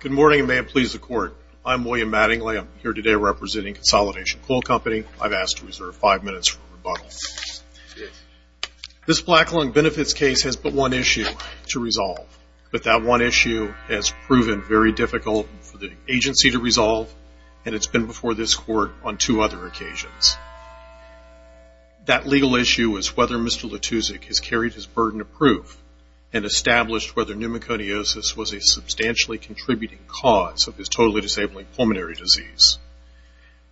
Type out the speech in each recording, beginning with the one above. Good morning and may it please the court. I'm William Mattingly. I'm here today representing Consolidation Coal Company. I've asked to reserve five minutes for rebuttal. This black lung benefits case has but one issue to resolve, but that one issue has proven very difficult for the agency to resolve and it's been before this court on two other occasions. That legal issue is whether Mr. Latusek has carried his burden of proof and established whether pneumoconiosis was a substantially contributing cause of his totally disabling pulmonary disease.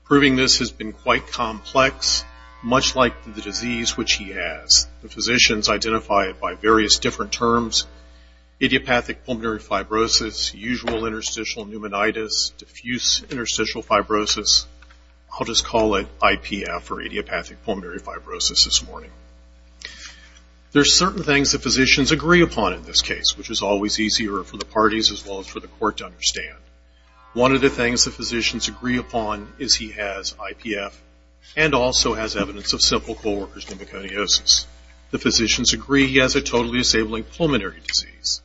Proving this has been quite complex, much like the disease which he has. The physicians identify it by various different terms, idiopathic pulmonary fibrosis, usual interstitial pneumonitis, diffuse interstitial fibrosis. I'll just call it IPF or idiopathic fibrosis this morning. There's certain things that physicians agree upon in this case, which is always easier for the parties as well as for the court to understand. One of the things the physicians agree upon is he has IPF and also has evidence of simple co-workers pneumoconiosis. The physicians agree he has a totally disabling pulmonary disease.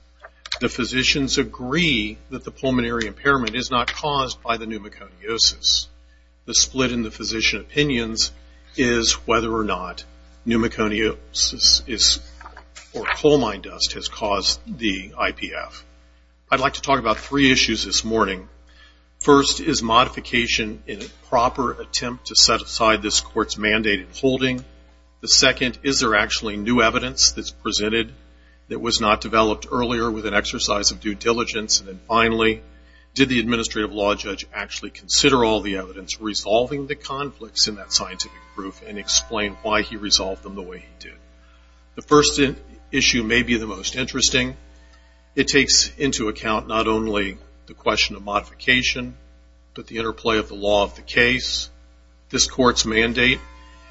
The physicians agree that the pulmonary impairment is not caused by the pneumoconiosis. The split in the physician opinions is whether or not pneumoconiosis or coal mine dust has caused the IPF. I'd like to talk about three issues this morning. First, is modification a proper attempt to set aside this court's mandated holding? The second, is there actually new evidence that's presented that was not developed earlier with an exercise of due diligence? Finally, did the administrative law judge actually consider all the evidence resolving the conflicts in that scientific proof and explain why he resolved them the way he did? The first issue may be the most interesting. It takes into account not only the question of modification, but the interplay of the law of the case, this court's mandate,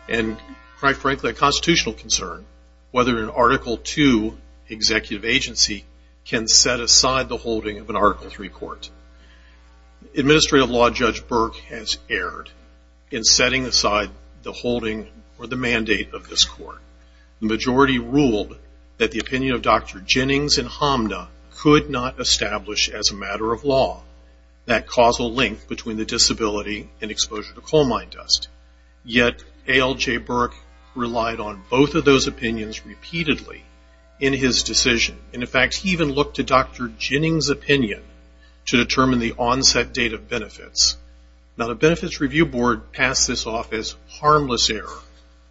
and quite frankly a constitutional concern whether an Article 2 executive agency can set aside the holding of an Article 3 court. Administrative law judge Burke has erred in setting aside the holding or the mandate of this court. The majority ruled that the opinion of Dr. Jennings and Hamna could not establish as a matter of law that causal link between the disability and exposure to coal mine dust. Yet, ALJ Burke relied on both of those opinions repeatedly in his decision. In fact, he even looked to Dr. Jennings' opinion to determine the onset date of benefits. Now, the Benefits Review Board passed this off as harmless error,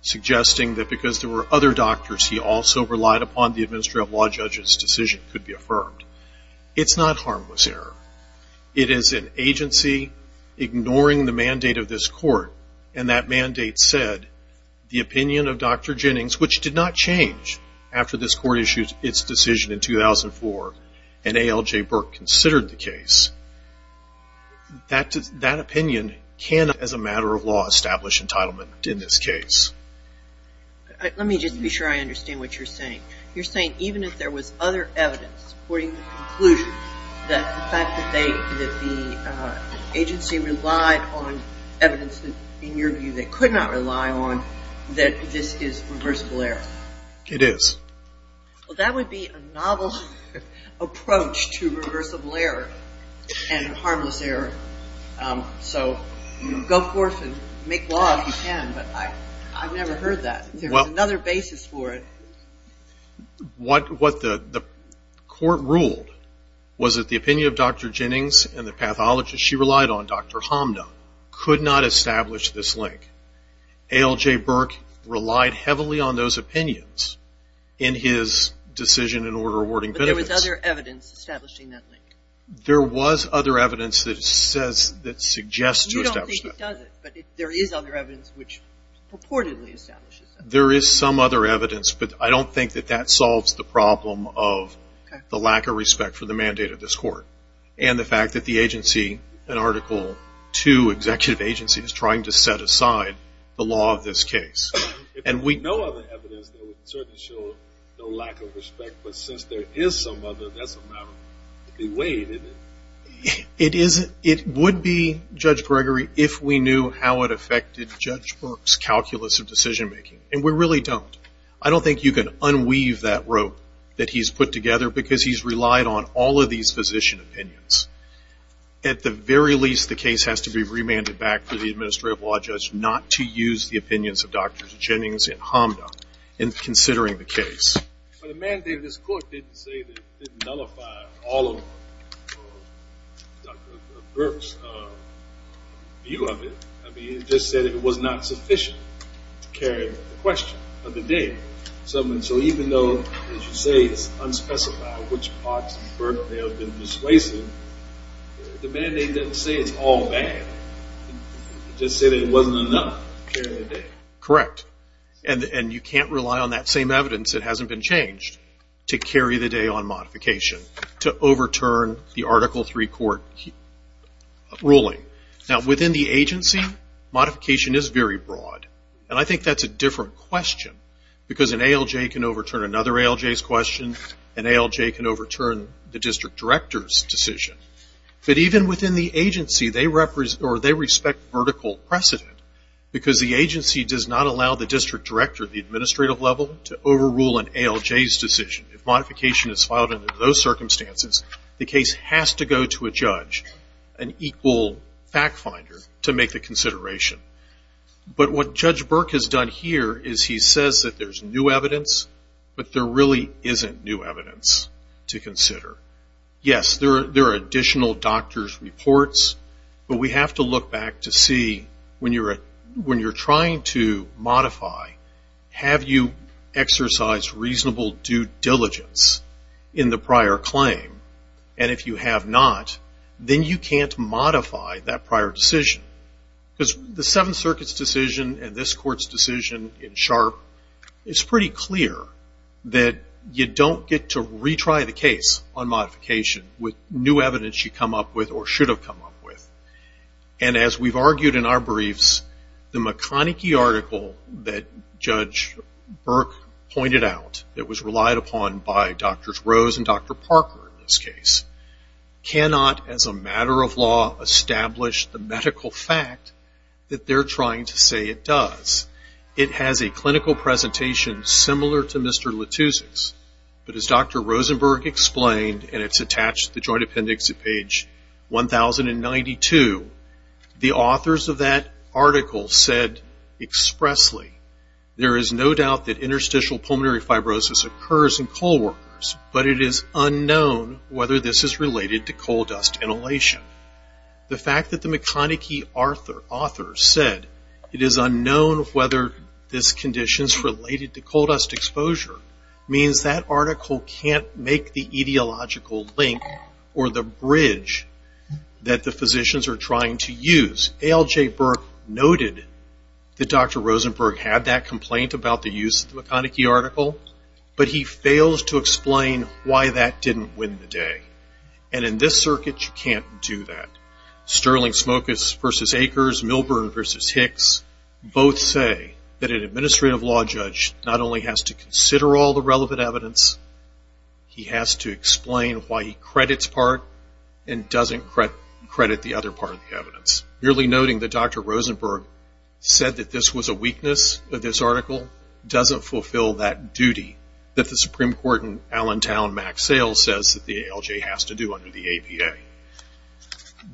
suggesting that because there were other doctors he also relied upon the administrative law judge's decision could be affirmed. It's not harmless error. It is an agency ignoring the mandate of this court and that mandate said the opinion of Dr. Jennings, which did not change after this court issued its decision in 2004 and ALJ Burke considered the case, that opinion cannot as a matter of law establish entitlement in this case. Let me just be sure I understand what you're saying. You're saying even if there was other evidence, according to the conclusion, that the fact that the agency relied on evidence in your view they could not rely on, that this is reversible error? It is. Well, that would be a novel approach to reversible error and harmless error. So, go forth and make law if you can, but I've never heard that. There's another basis for it. What the court ruled was that the opinion of Dr. Jennings and the pathologist she relied on, Dr. Hamda, could not establish this link. ALJ Burke relied heavily on those opinions in his decision in order of awarding benefits. But there was other evidence establishing that link? There was other evidence that suggests to establish that link. You don't think it does it, but there is other evidence which purportedly establishes it. There is some other evidence, but I don't think that that solves the problem of the lack of respect for the mandate of this court and the fact that the agency, an Article 2 executive agency, is trying to set aside the law of this case. If there was no other evidence that would certainly show the lack of respect, but since there is some other, that's a matter of the way, isn't it? It would be, Judge Gregory, if we knew how it affected Judge Burke's calculus of decision-making, and we really don't. I don't think you can unweave that rope that he's put together because he's relied on all of these physician opinions. At the very least, the case has to be remanded back to the administrative law judge not to use the opinions of Dr. Jennings and Hamda in considering the case. But the mandate of this court didn't say that it nullified all of Dr. Burke's view of it. I mean, it just said it was not sufficient to carry the question of the day. So even though, as you say, it's unspecified which parts of Burke they have been persuasive, the mandate doesn't say it's all bad. It just said it wasn't enough to carry the day. Correct. And you can't rely on that same evidence that hasn't been changed to carry the day on modification, to overturn the Article III court ruling. Now, within the agency, modification is very broad. And I think that's a different question because an ALJ can overturn another ALJ's question, an ALJ can overturn the district director's decision. But even within the agency, they respect vertical precedent because the agency does not allow the district director at the administrative level to overrule an ALJ's decision. If modification is filed under those circumstances, the case has to go to a judge, an equal fact finder, to make the consideration. But what Judge Burke has done here is he says that there's new evidence, but there really isn't new evidence to consider. Yes, there are additional doctor's reports, but we have to look back to see when you're trying to modify, have you exercised reasonable due diligence in the prior claim? And if you have not, then you can't modify that prior decision. Because the Seventh Circuit's decision and this court's decision in Sharp, it's pretty clear that you don't get to retry the case on briefs. The McConnachie article that Judge Burke pointed out, it was relied upon by Drs. Rose and Dr. Parker in this case, cannot as a matter of law establish the medical fact that they're trying to say it does. It has a clinical presentation similar to Mr. Letoosik's. But as Dr. Rosenberg explained, and it's attached to the Joint Appendix at page 1092, the authors of that article said expressly, there is no doubt that interstitial pulmonary fibrosis occurs in coal workers, but it is unknown whether this is related to coal dust inhalation. The fact that the McConnachie authors said it is unknown whether this condition is related to coal dust exposure means that article can't make the ideological link or the bridge that the physicians are trying to use. A.L.J. Burke noted that Dr. Rosenberg had that complaint about the use of the McConnachie article, but he failed to explain why that didn't win the day. And in this circuit, you can't do that. Sterling Smokus versus Akers, Milburn versus Hicks, both say that an administrative law judge not only has to consider all the relevant evidence, he has to explain why he credits part and doesn't credit the other part of the case. The fact that Dr. Rosenberg said that this was a weakness of this article doesn't fulfill that duty that the Supreme Court in Allentown, Max Sales, says that the A.L.J. has to do under the APA.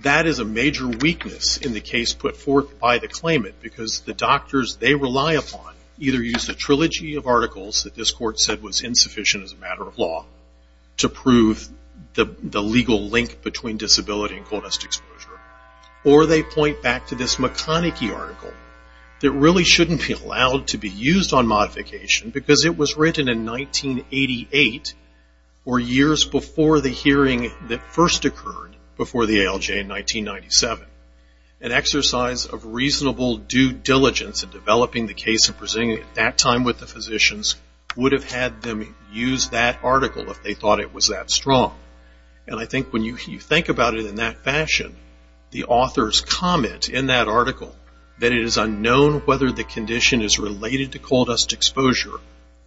That is a major weakness in the case put forth by the claimant, because the doctors they rely upon either use the trilogy of articles that this court said was insufficient as a matter of law to prove the legal link between disability and coal dust exposure, or they point back to this McConnachie article that really shouldn't be allowed to be used on modification, because it was written in 1988, or years before the hearing that first occurred before the A.L.J. in 1997. An exercise of reasonable due diligence in developing the case and presenting it at that time with the physicians would have had them use that article if they thought it was that strong. And I think when you think about it in that fashion, the author's comment in that article that it is unknown whether the condition is related to coal dust exposure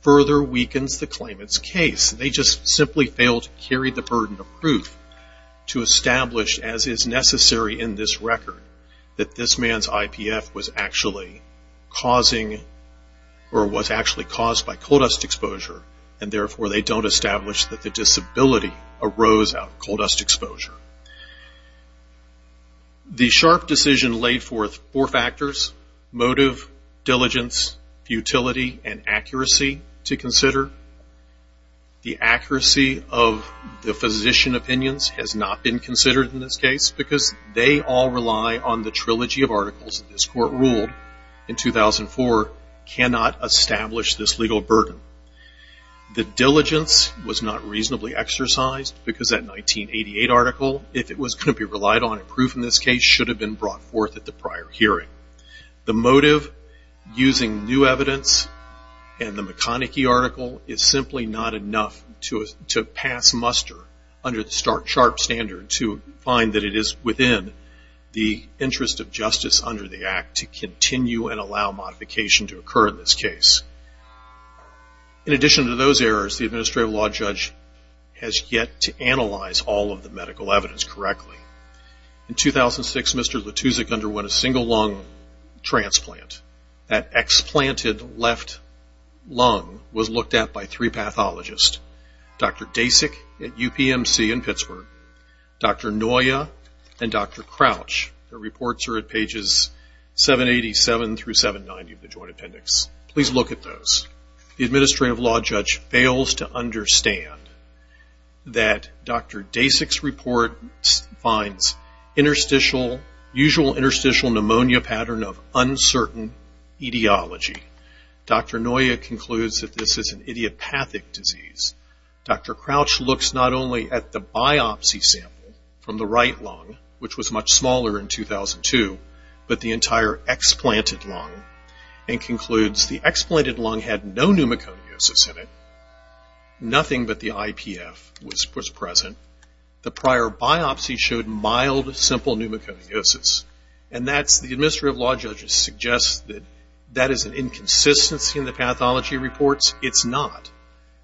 further weakens the claimant's case. They just simply failed to carry the burden of proof to establish, as is necessary in this record, that this man's IPF was actually causing, or was actually The Sharpe decision laid forth four factors, motive, diligence, futility, and accuracy to consider. The accuracy of the physician opinions has not been considered in this case, because they all rely on the trilogy of articles that this court ruled in 2004 cannot establish this legal burden. The diligence was not reasonably exercised, because that 1988 article, if it was going to be relied on in proof in this case, should have been brought forth at the prior hearing. The motive, using new evidence, and the McConnachie article, is simply not enough to pass muster under the Sharpe standard to find that it is within the interest of justice under the Act to continue and allow modification to occur in this case. In addition to those errors, the Administrative Law Judge has yet to analyze all of the medical evidence correctly. In 2006, Mr. Latussek underwent a single lung transplant. That explanted left lung was looked at by three pathologists, Dr. Dasik at UPMC in Pittsburgh, Dr. Noya, and Dr. Crouch. Their reports are at pages 787 through 790 of the Joint Appendix. Please look at those. The Administrative Law Judge fails to understand that Dr. Dasik's report finds usual interstitial pneumonia pattern of uncertain etiology. Dr. Noya concludes that this is an idiopathic disease. Dr. Crouch looks not only at the biopsy sample from the right lung, which was much smaller in 2002, but the entire explanted lung, and concludes the explanted lung had no pneumoconiosis in it, nothing but the IPF was present. The prior biopsy showed mild, simple pneumoconiosis. The Administrative Law Judge suggests that that is an inconsistency in the pathology reports. It's not.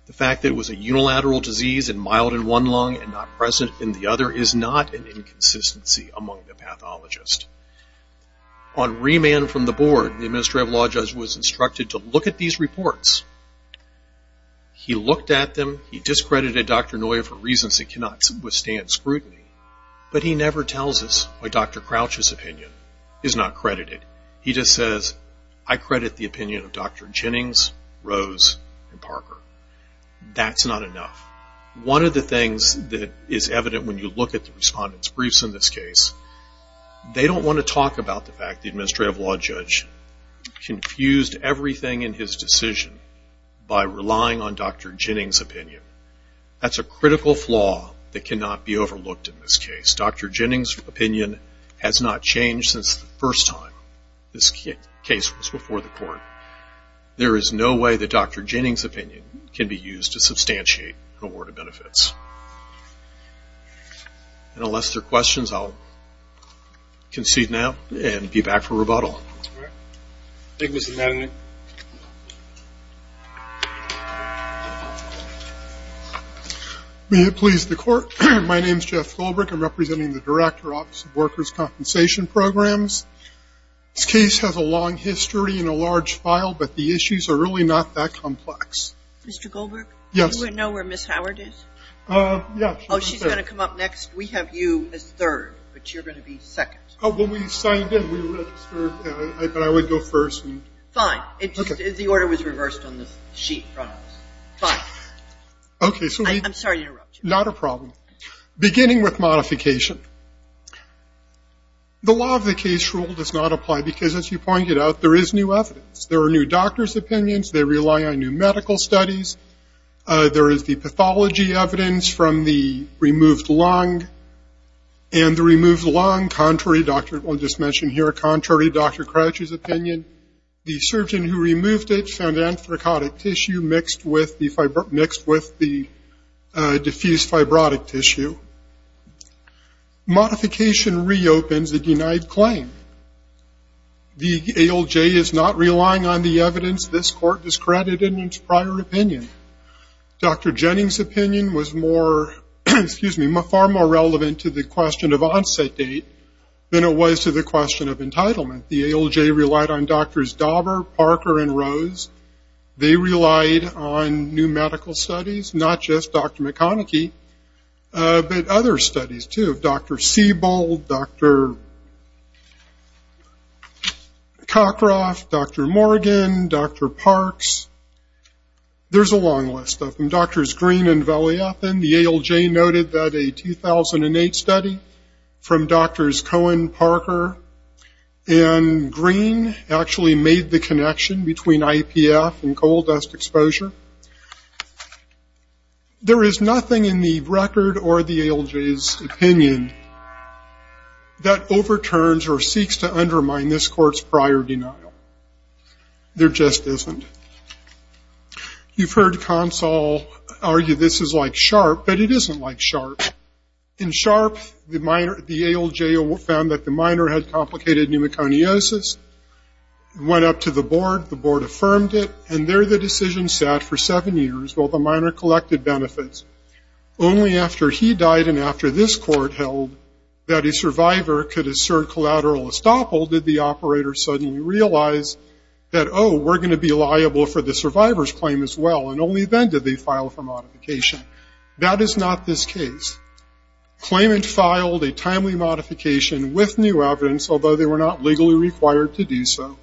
The fact that it was a unilateral disease and mild in one lung and not present in the other is not an inconsistency among the pathologists. On remand from the board, the Administrative Law Judge was instructed to look at these reports. He looked at them. He discredited Dr. Noya for reasons that cannot withstand scrutiny, but he never tells us why Dr. Crouch's opinion is not credited. He just says, I credit the opinion of Dr. Jennings, Rose, and Parker. That's not enough. One of the things that is evident when you look at the respondent's briefs in this case, they don't want to talk about the fact that the Administrative Law Judge confused everything in his decision by relying on Dr. Jennings' opinion. That's a critical flaw that cannot be overlooked in this case. Dr. Jennings' opinion has not changed since the first time this case was before the court. There is no way that Dr. Jennings' opinion can be used to substantiate awarded benefits. Unless there are questions, I'll concede now and be back for rebuttal. Thank you, Mr. Madden. May it please the court. My name is Jeff Goldberg. I'm representing the Director, Office of Workers' Compensation Programs. This case has a long history and a large file, but the issues are really not that complex. Mr. Goldberg? Yes. Do you know where Ms. Howard is? Yes. Oh, she's going to come up next. We have you as third, but you're going to be second. Well, we signed in. We registered, but I would go first. Fine. The order was reversed on the sheet in front of us. Fine. I'm sorry to interrupt you. Not a problem. Beginning with modification. The law of the case rule does not apply because, as you pointed out, there is new evidence. There are new doctors' opinions. They rely on new medical studies. There is the pathology evidence from the removed lung, and the removed lung, contrary, I'll just mention here, contrary to Dr. Crouch's opinion. The surgeon who removed it found anthracotic tissue mixed with the diffused fibrotic tissue. Modification reopens the denied claim. The ALJ is not relying on the evidence this court discredited in its prior opinion. Dr. Jennings' opinion was far more relevant to the question of onset date than it was to the question of entitlement. The ALJ relied on Drs. Dauber, Parker, and Rose. They relied on new medical studies, not just Dr. McConnachie, but other studies, too. Dr. Siebold, Dr. Cockroft, Dr. Morgan, Dr. Parks. There's a long list of them. Drs. Green and Valliathan, the ALJ noted that a 2008 study from Drs. Cohen, Parker, and Green actually made the connection between IPF and coal dust exposure. There is nothing in the record or the ALJ's opinion that overturns or seeks to undermine this court's prior denial. There just isn't. You've heard Consall argue this is like SHARP, but it isn't like SHARP. In SHARP, the ALJ found that the minor had complicated pneumoconiosis, went up to the board, the board affirmed it, and there the decision sat for seven years while the minor collected benefits. Only after he died and after this court held that a survivor could assert collateral estoppel did the operator suddenly realize that, oh, we're going to be liable for the survivor's claim as well, and only then did they file for modification. That is not this case. Claimant filed a timely modification with new evidence, although they were not legally required to do so.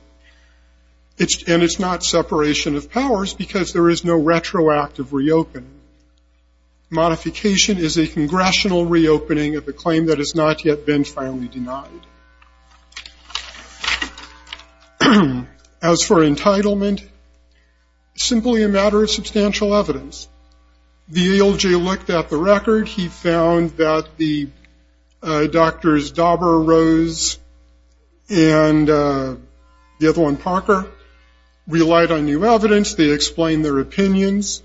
And it's not separation of powers because there is no retroactive reopening. Modification is a congressional reopening of a claim that has not yet been finally denied. As for entitlement, simply a matter of substantial evidence. The ALJ looked at the record. He found that the doctors Dauber, Rose, and the other one, Parker, relied on new evidence. They explained their opinions.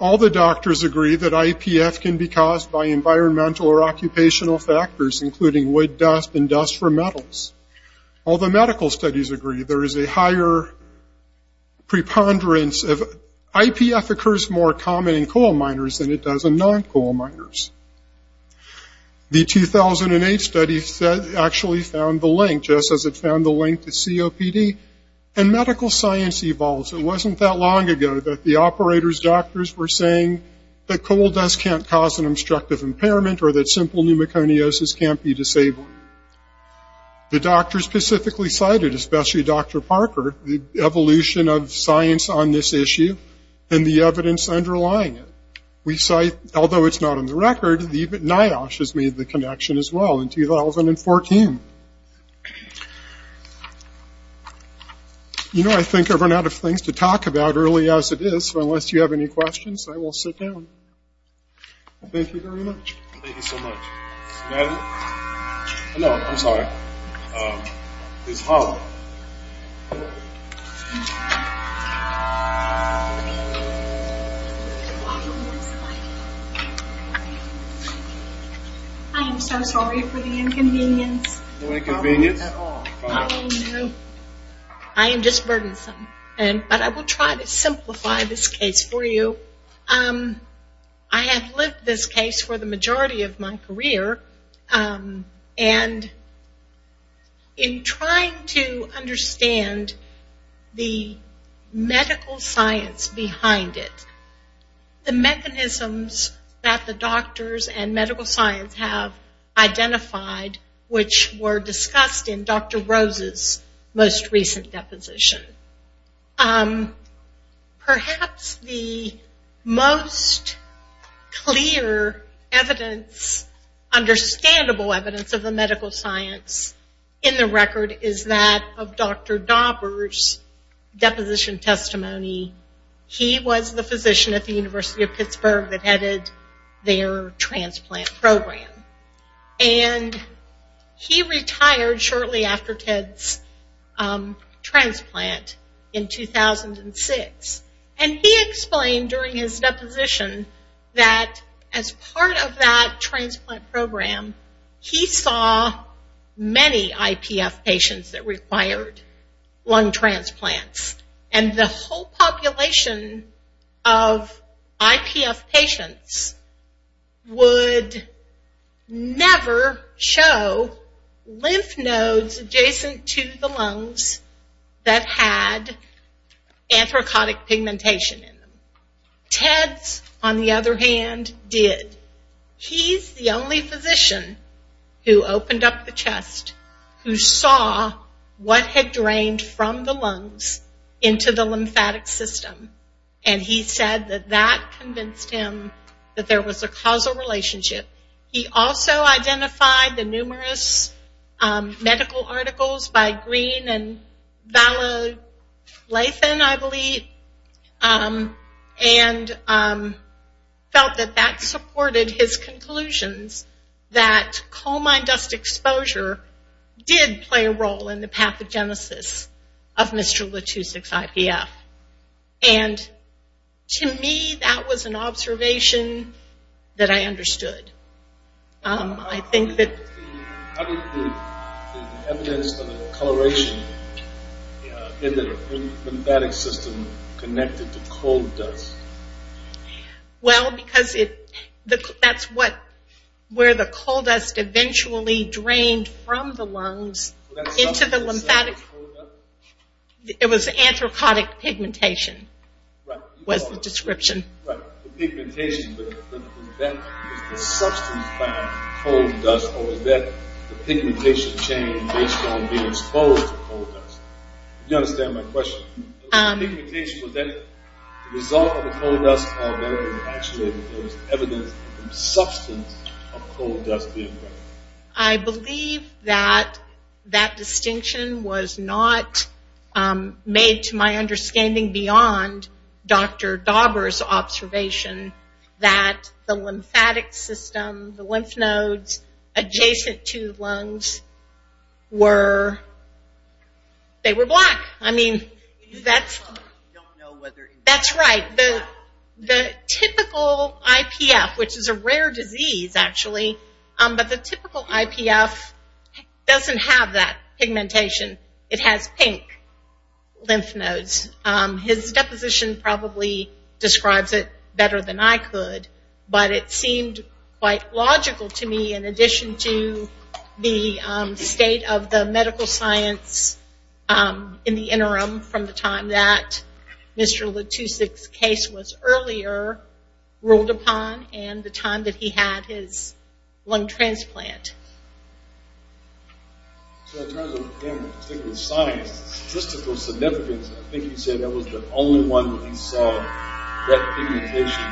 All the doctors agree that IPF can be caused by environmental or occupational factors, including wood dust and dust from metals. All the medical studies agree there is a higher preponderance of IPF occurs more common in coal miners than it does in non-coal miners. The 2008 study actually found the link, just as it found the link to COPD, and medical science evolves. It wasn't that long ago that the operators' doctors were saying that coal dust can't cause an obstructive impairment or that simple pneumoconiosis can't be disabled. The doctors specifically cited, especially Dr. Parker, the evolution of science on this issue and the evidence underlying it. We cite, although it's not on the record, NIOSH has made the connection as well in 2014. You know, I think I've run out of things to talk about early as it is, so unless you have any questions, I will sit down. Thank you very much. Thank you so much. I am so sorry for the inconvenience. No inconvenience at all. I am just burdensome, but I will try to simplify this case for you. I have lived this case for the majority of my career, and in trying to understand the medical science behind it, the mechanisms that the doctors and medical science have identified, which were discussed in Dr. Rose's most recent deposition. Perhaps the most clear evidence, understandable evidence of the medical science in the record, is that of Dr. Dauber's deposition testimony. He was the physician at the University of Pittsburgh that headed their transplant program. He retired shortly after Ted's transplant in 2006. He explained during his deposition that as part of that transplant program, he saw many IPF patients that required lung transplants. The whole population of IPF patients would never show lymph nodes adjacent to the lungs that had anthracotic pigmentation in them. Ted's, on the other hand, did. He's the only physician who opened up the chest, who saw what had drained from the lungs into the lymphatic system. He said that that convinced him that there was a causal relationship. He also identified the numerous medical articles by Green and Vallothan, I believe, and felt that that supported his conclusions, that coal mine dust exposure did play a role in the pathogenesis of Mr. Latussek's IPF. And to me, that was an observation that I understood. I think that... How did the evidence of the coloration in the lymphatic system connect it to coal dust? Well, because that's where the coal dust eventually drained from the lungs into the lymphatic... It was anthracotic pigmentation was the description. Right, the pigmentation. Was that the substance behind coal dust, or was that the pigmentation change based on being exposed to coal dust? Do you understand my question? Pigmentation, was that the result of the coal dust? Or was it actually evidence of the substance of coal dust being present? I believe that that distinction was not made to my understanding beyond Dr. Dauber's observation that the lymphatic system, the lymph nodes adjacent to the lungs were... They were black. I mean, that's... That's right. The typical IPF, which is a rare disease, actually, but the typical IPF doesn't have that pigmentation. It has pink lymph nodes. His deposition probably describes it better than I could, but it seemed quite logical to me in addition to the state of the medical science in the interim from the time that Mr. Latussek's case was earlier ruled upon and the time that he had his lung transplant. So in terms of him, particularly science, statistical significance, I think you said that was the only one that he saw that pigmentation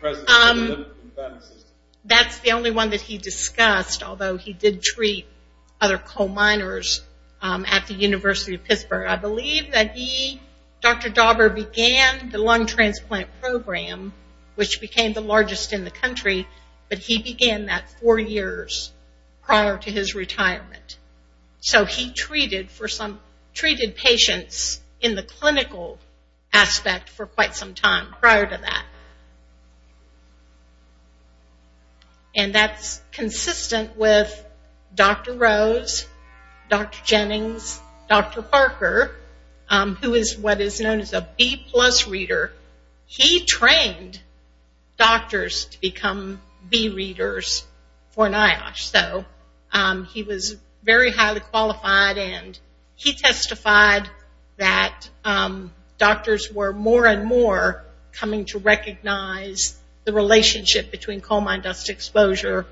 present in the lymphatic system. That's the only one that he discussed, although he did treat other coal miners at the University of Pittsburgh. I believe that he, Dr. Dauber, began the lung transplant program, which became the largest in the country, but he began that four years prior to his retirement. So he treated patients in the clinical aspect for quite some time prior to that. And that's consistent with Dr. Rose, Dr. Jennings, Dr. Parker, who is what is known as a B-plus reader. He trained doctors to become B-readers for NIOSH. So he was very highly qualified, and he testified that doctors were more and more coming to recognize the relationship between coal mine dust exposure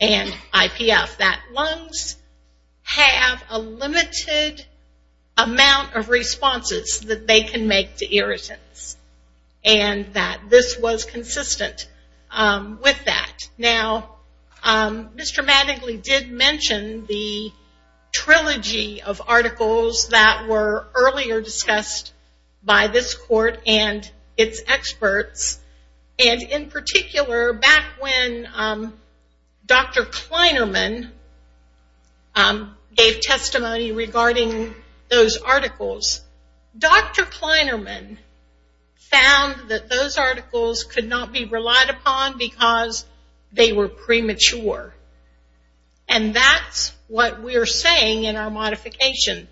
and IPF, that lungs have a limited amount of responses that they can make to irritants, and that this was consistent with that. Now, Mr. Mattingly did mention the trilogy of articles that were earlier discussed by this court and its experts, and in particular, back when Dr. Kleinerman gave testimony regarding those articles, Dr. Kleinerman found that those articles could not be relied upon because they were premature. And that's what we're saying in our modification,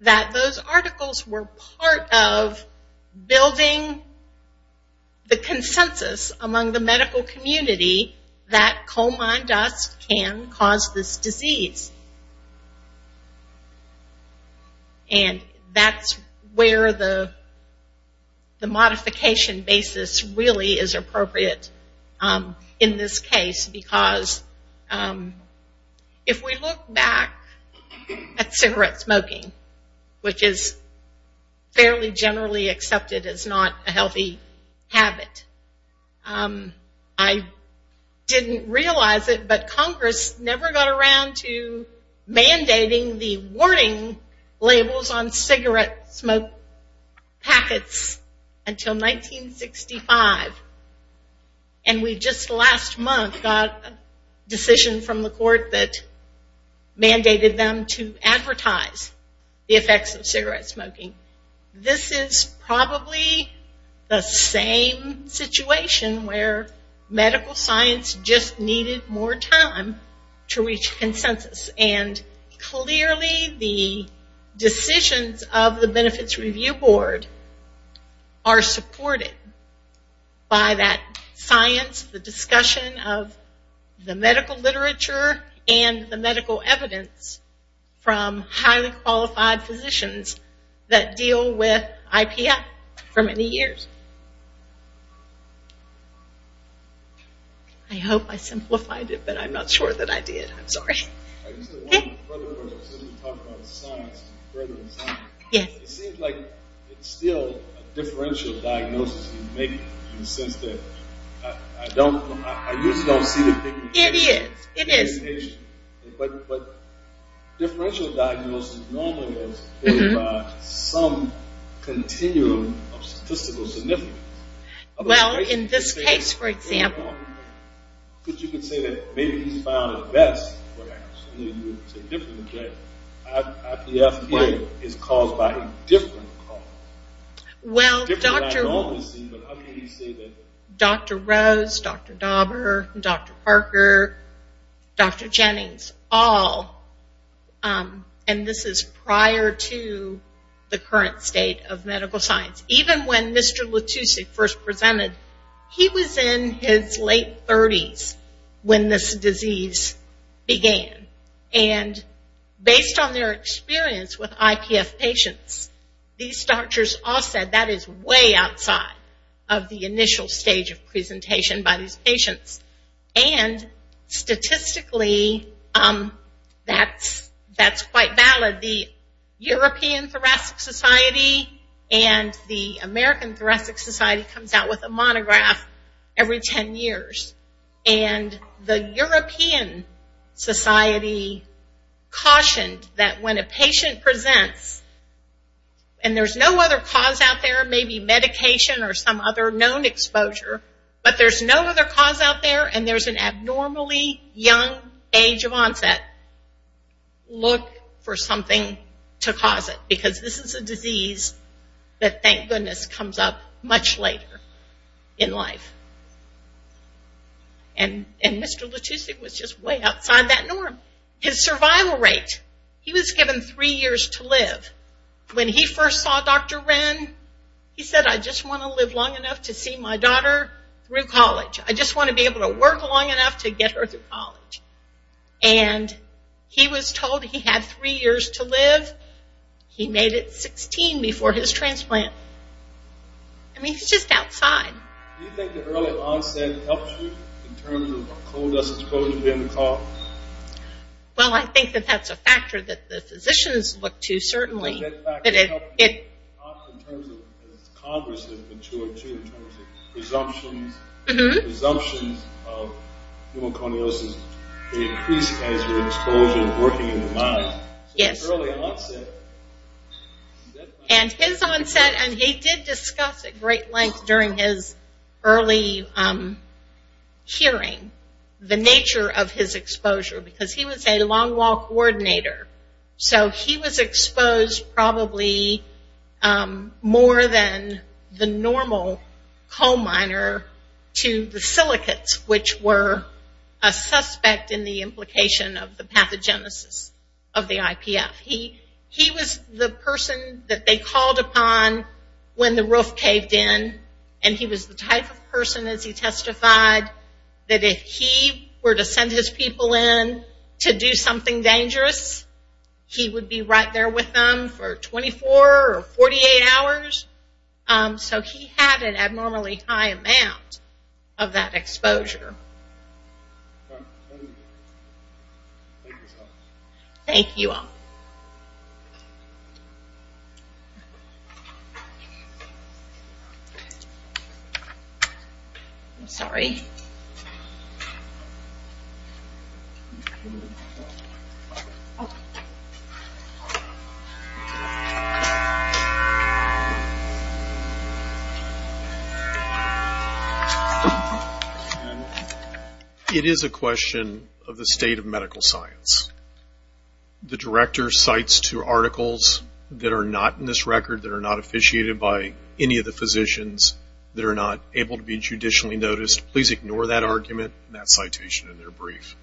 that those articles were part of building the consensus among the medical community that coal mine dust can cause this disease. And that's where the modification basis really is appropriate in this case, because if we look back at cigarette smoking, which is fairly generally accepted as not a healthy habit, I didn't realize it, but Congress never got around to mandating the warning labels on cigarette smoke packets until 1965. And we just last month got a decision from the court that mandated them to advertise the effects of cigarette smoking. This is probably the same situation where medical science just needed more time to reach consensus, and clearly the decisions of the Benefits Review Board are supported by that science, the discussion of the medical literature, and the medical evidence from highly qualified physicians that deal with IPF for many years. I hope I simplified it, but I'm not sure that I did. I'm sorry. It seems like it's still a differential diagnosis you're making, in the sense that I usually don't see the pigmentation. It is. But differential diagnoses normally have some continuum of statistical significance. Well, in this case for example. But you could say that maybe he's found it best. IPF is caused by a different cause. Well, Dr. Rose, Dr. Dauber, Dr. Parker, Dr. Jennings, all, and this is prior to the current state of medical science. Even when Mr. Lattusi first presented, he was in his late 30s when this disease began. Based on their experience with IPF patients, these doctors all said that is way outside of the initial stage of presentation by these patients. Statistically, that's quite valid. The European Thoracic Society and the American Thoracic Society comes out with a monograph every 10 years. The European Society cautioned that when a patient presents and there's no other cause out there, maybe medication or some other known exposure, but there's no other cause out there and there's an abnormally young age of onset, look for something to cause it. Because this is a disease that, thank goodness, comes up much later in life. And Mr. Lattusi was just way outside that norm. His survival rate, he was given three years to live. When he first saw Dr. Ren, he said, I just want to live long enough to see my daughter through college. I just want to be able to work long enough to get her through college. And he was told he had three years to live. He made it 16 before his transplant. I mean, he's just outside. Do you think the early onset helps you in terms of a cold us exposure to end the cough? Well, I think that that's a factor that the physicians look to, certainly. In terms of, as Congress has matured, too, in terms of presumptions. Presumptions of pneumoconiosis increase as your exposure is working in the mind. Yes. And his onset, and he did discuss at great length during his early hearing, the nature of his exposure. Because he was a long-wall coordinator. So he was exposed probably more than the normal coal miner to the silicates, which were a suspect in the implication of the pathogenesis of the IPF. He was the person that they called upon when the roof caved in. And he was the type of person, as he testified, that if he were to send his people in to do something dangerous, he would be right there with them for 24 or 48 hours. So he had an abnormally high amount of that exposure. Thank you all. I'm sorry. It is a question of the state of medical science. The director cites two articles that are not in this record, that are not officiated by any of the physicians, that are not able to be judicially noticed. Please ignore that argument and that citation in their brief.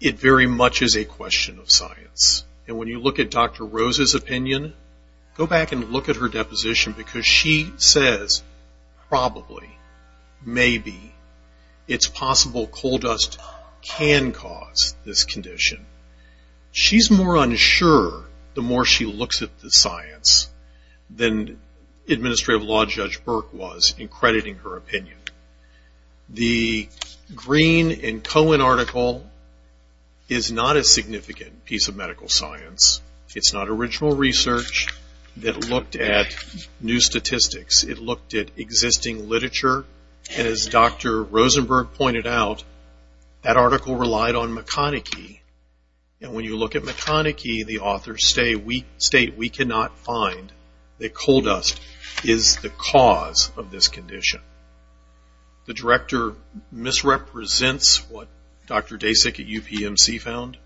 It very much is a question of science. And when you look at Dr. Rose's opinion, go back and look at her deposition because she says, probably, maybe, it's possible coal dust can cause this condition. She's more unsure the more she looks at the science than Administrative Law Judge Burke was in crediting her opinion. The Green and Cohen article is not a significant piece of medical science. It's not original research that looked at new statistics. It looked at existing literature. And as Dr. Rosenberg pointed out, that article relied on McConnachie. And when you look at McConnachie, the authors state, we cannot find that coal dust is the cause of this condition. The director misrepresents what Dr. Dasik at UPMC found.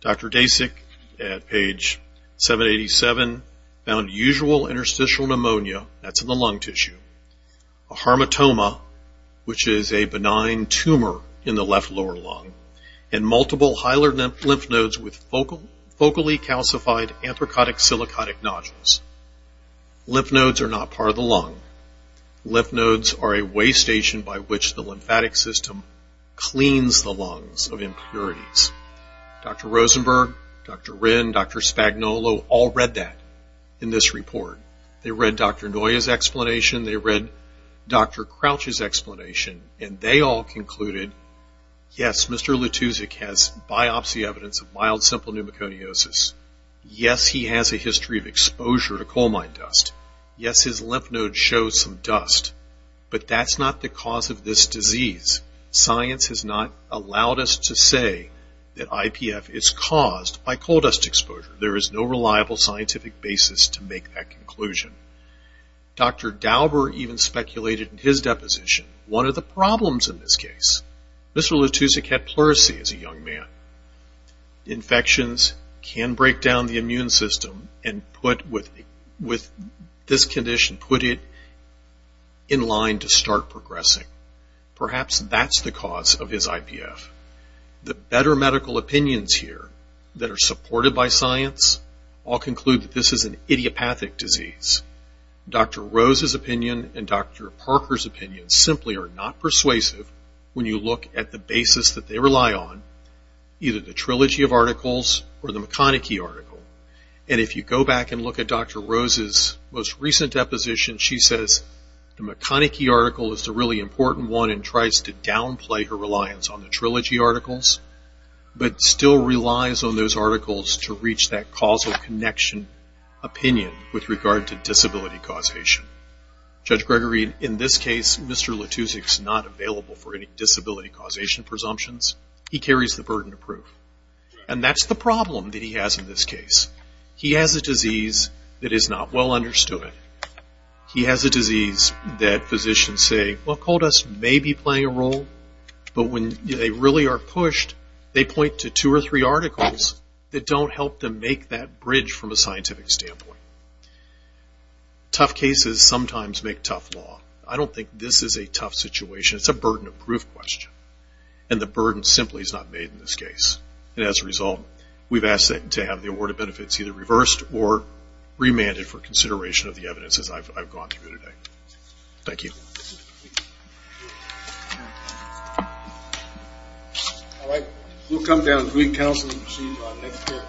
Dr. Dasik, at page 787, found usual interstitial pneumonia. That's in the lung tissue. A harmatoma, which is a benign tumor in the left lower lung. And multiple hyaluronic lymph nodes with focally calcified anthracotic-silicotic nodules. Lymph nodes are not part of the lung. Lymph nodes are a way station by which the lymphatic system cleans the lungs of impurities. Dr. Rosenberg, Dr. Wren, Dr. Spagnuolo all read that in this report. They read Dr. Noya's explanation. They read Dr. Crouch's explanation. And they all concluded, yes, Mr. Lutuzek has biopsy evidence of mild simple pneumoconiosis. Yes, he has a history of exposure to coal mine dust. Yes, his lymph node shows some dust. But that's not the cause of this disease. Science has not allowed us to say that IPF is caused by coal dust exposure. There is no reliable scientific basis to make that conclusion. Dr. Dauber even speculated in his deposition, one of the problems in this case. Mr. Lutuzek had pleurisy as a young man. Infections can break down the immune system and put with this condition, put it in line to start progressing. Perhaps that's the cause of his IPF. The better medical opinions here that are supported by science all conclude that this is an idiopathic disease. Dr. Rose's opinion and Dr. Parker's opinion simply are not persuasive when you look at the basis that they rely on, either the trilogy of articles or the McConnachie article. And if you go back and look at Dr. Rose's most recent deposition, she says the McConnachie article is the really important one and tries to downplay her reliance on the trilogy articles, but still relies on those articles to reach that causal connection opinion with regard to disability causation. Judge Gregory, in this case, Mr. Lutuzek's not available for any disability causation presumptions. He carries the burden of proof. And that's the problem that he has in this case. He has a disease that is not well understood. He has a disease that physicians say, well, cold us may be playing a role, but when they really are pushed, they point to two or three articles that don't help them make that bridge from a scientific standpoint. Tough cases sometimes make tough law. I don't think this is a tough situation. It's a burden of proof question. And the burden simply is not made in this case. And as a result, we've asked to have the award of benefits either reversed or remanded for consideration of the evidence as I've gone through today. Thank you. Thank you. All right. We'll come down to the council and see you next year.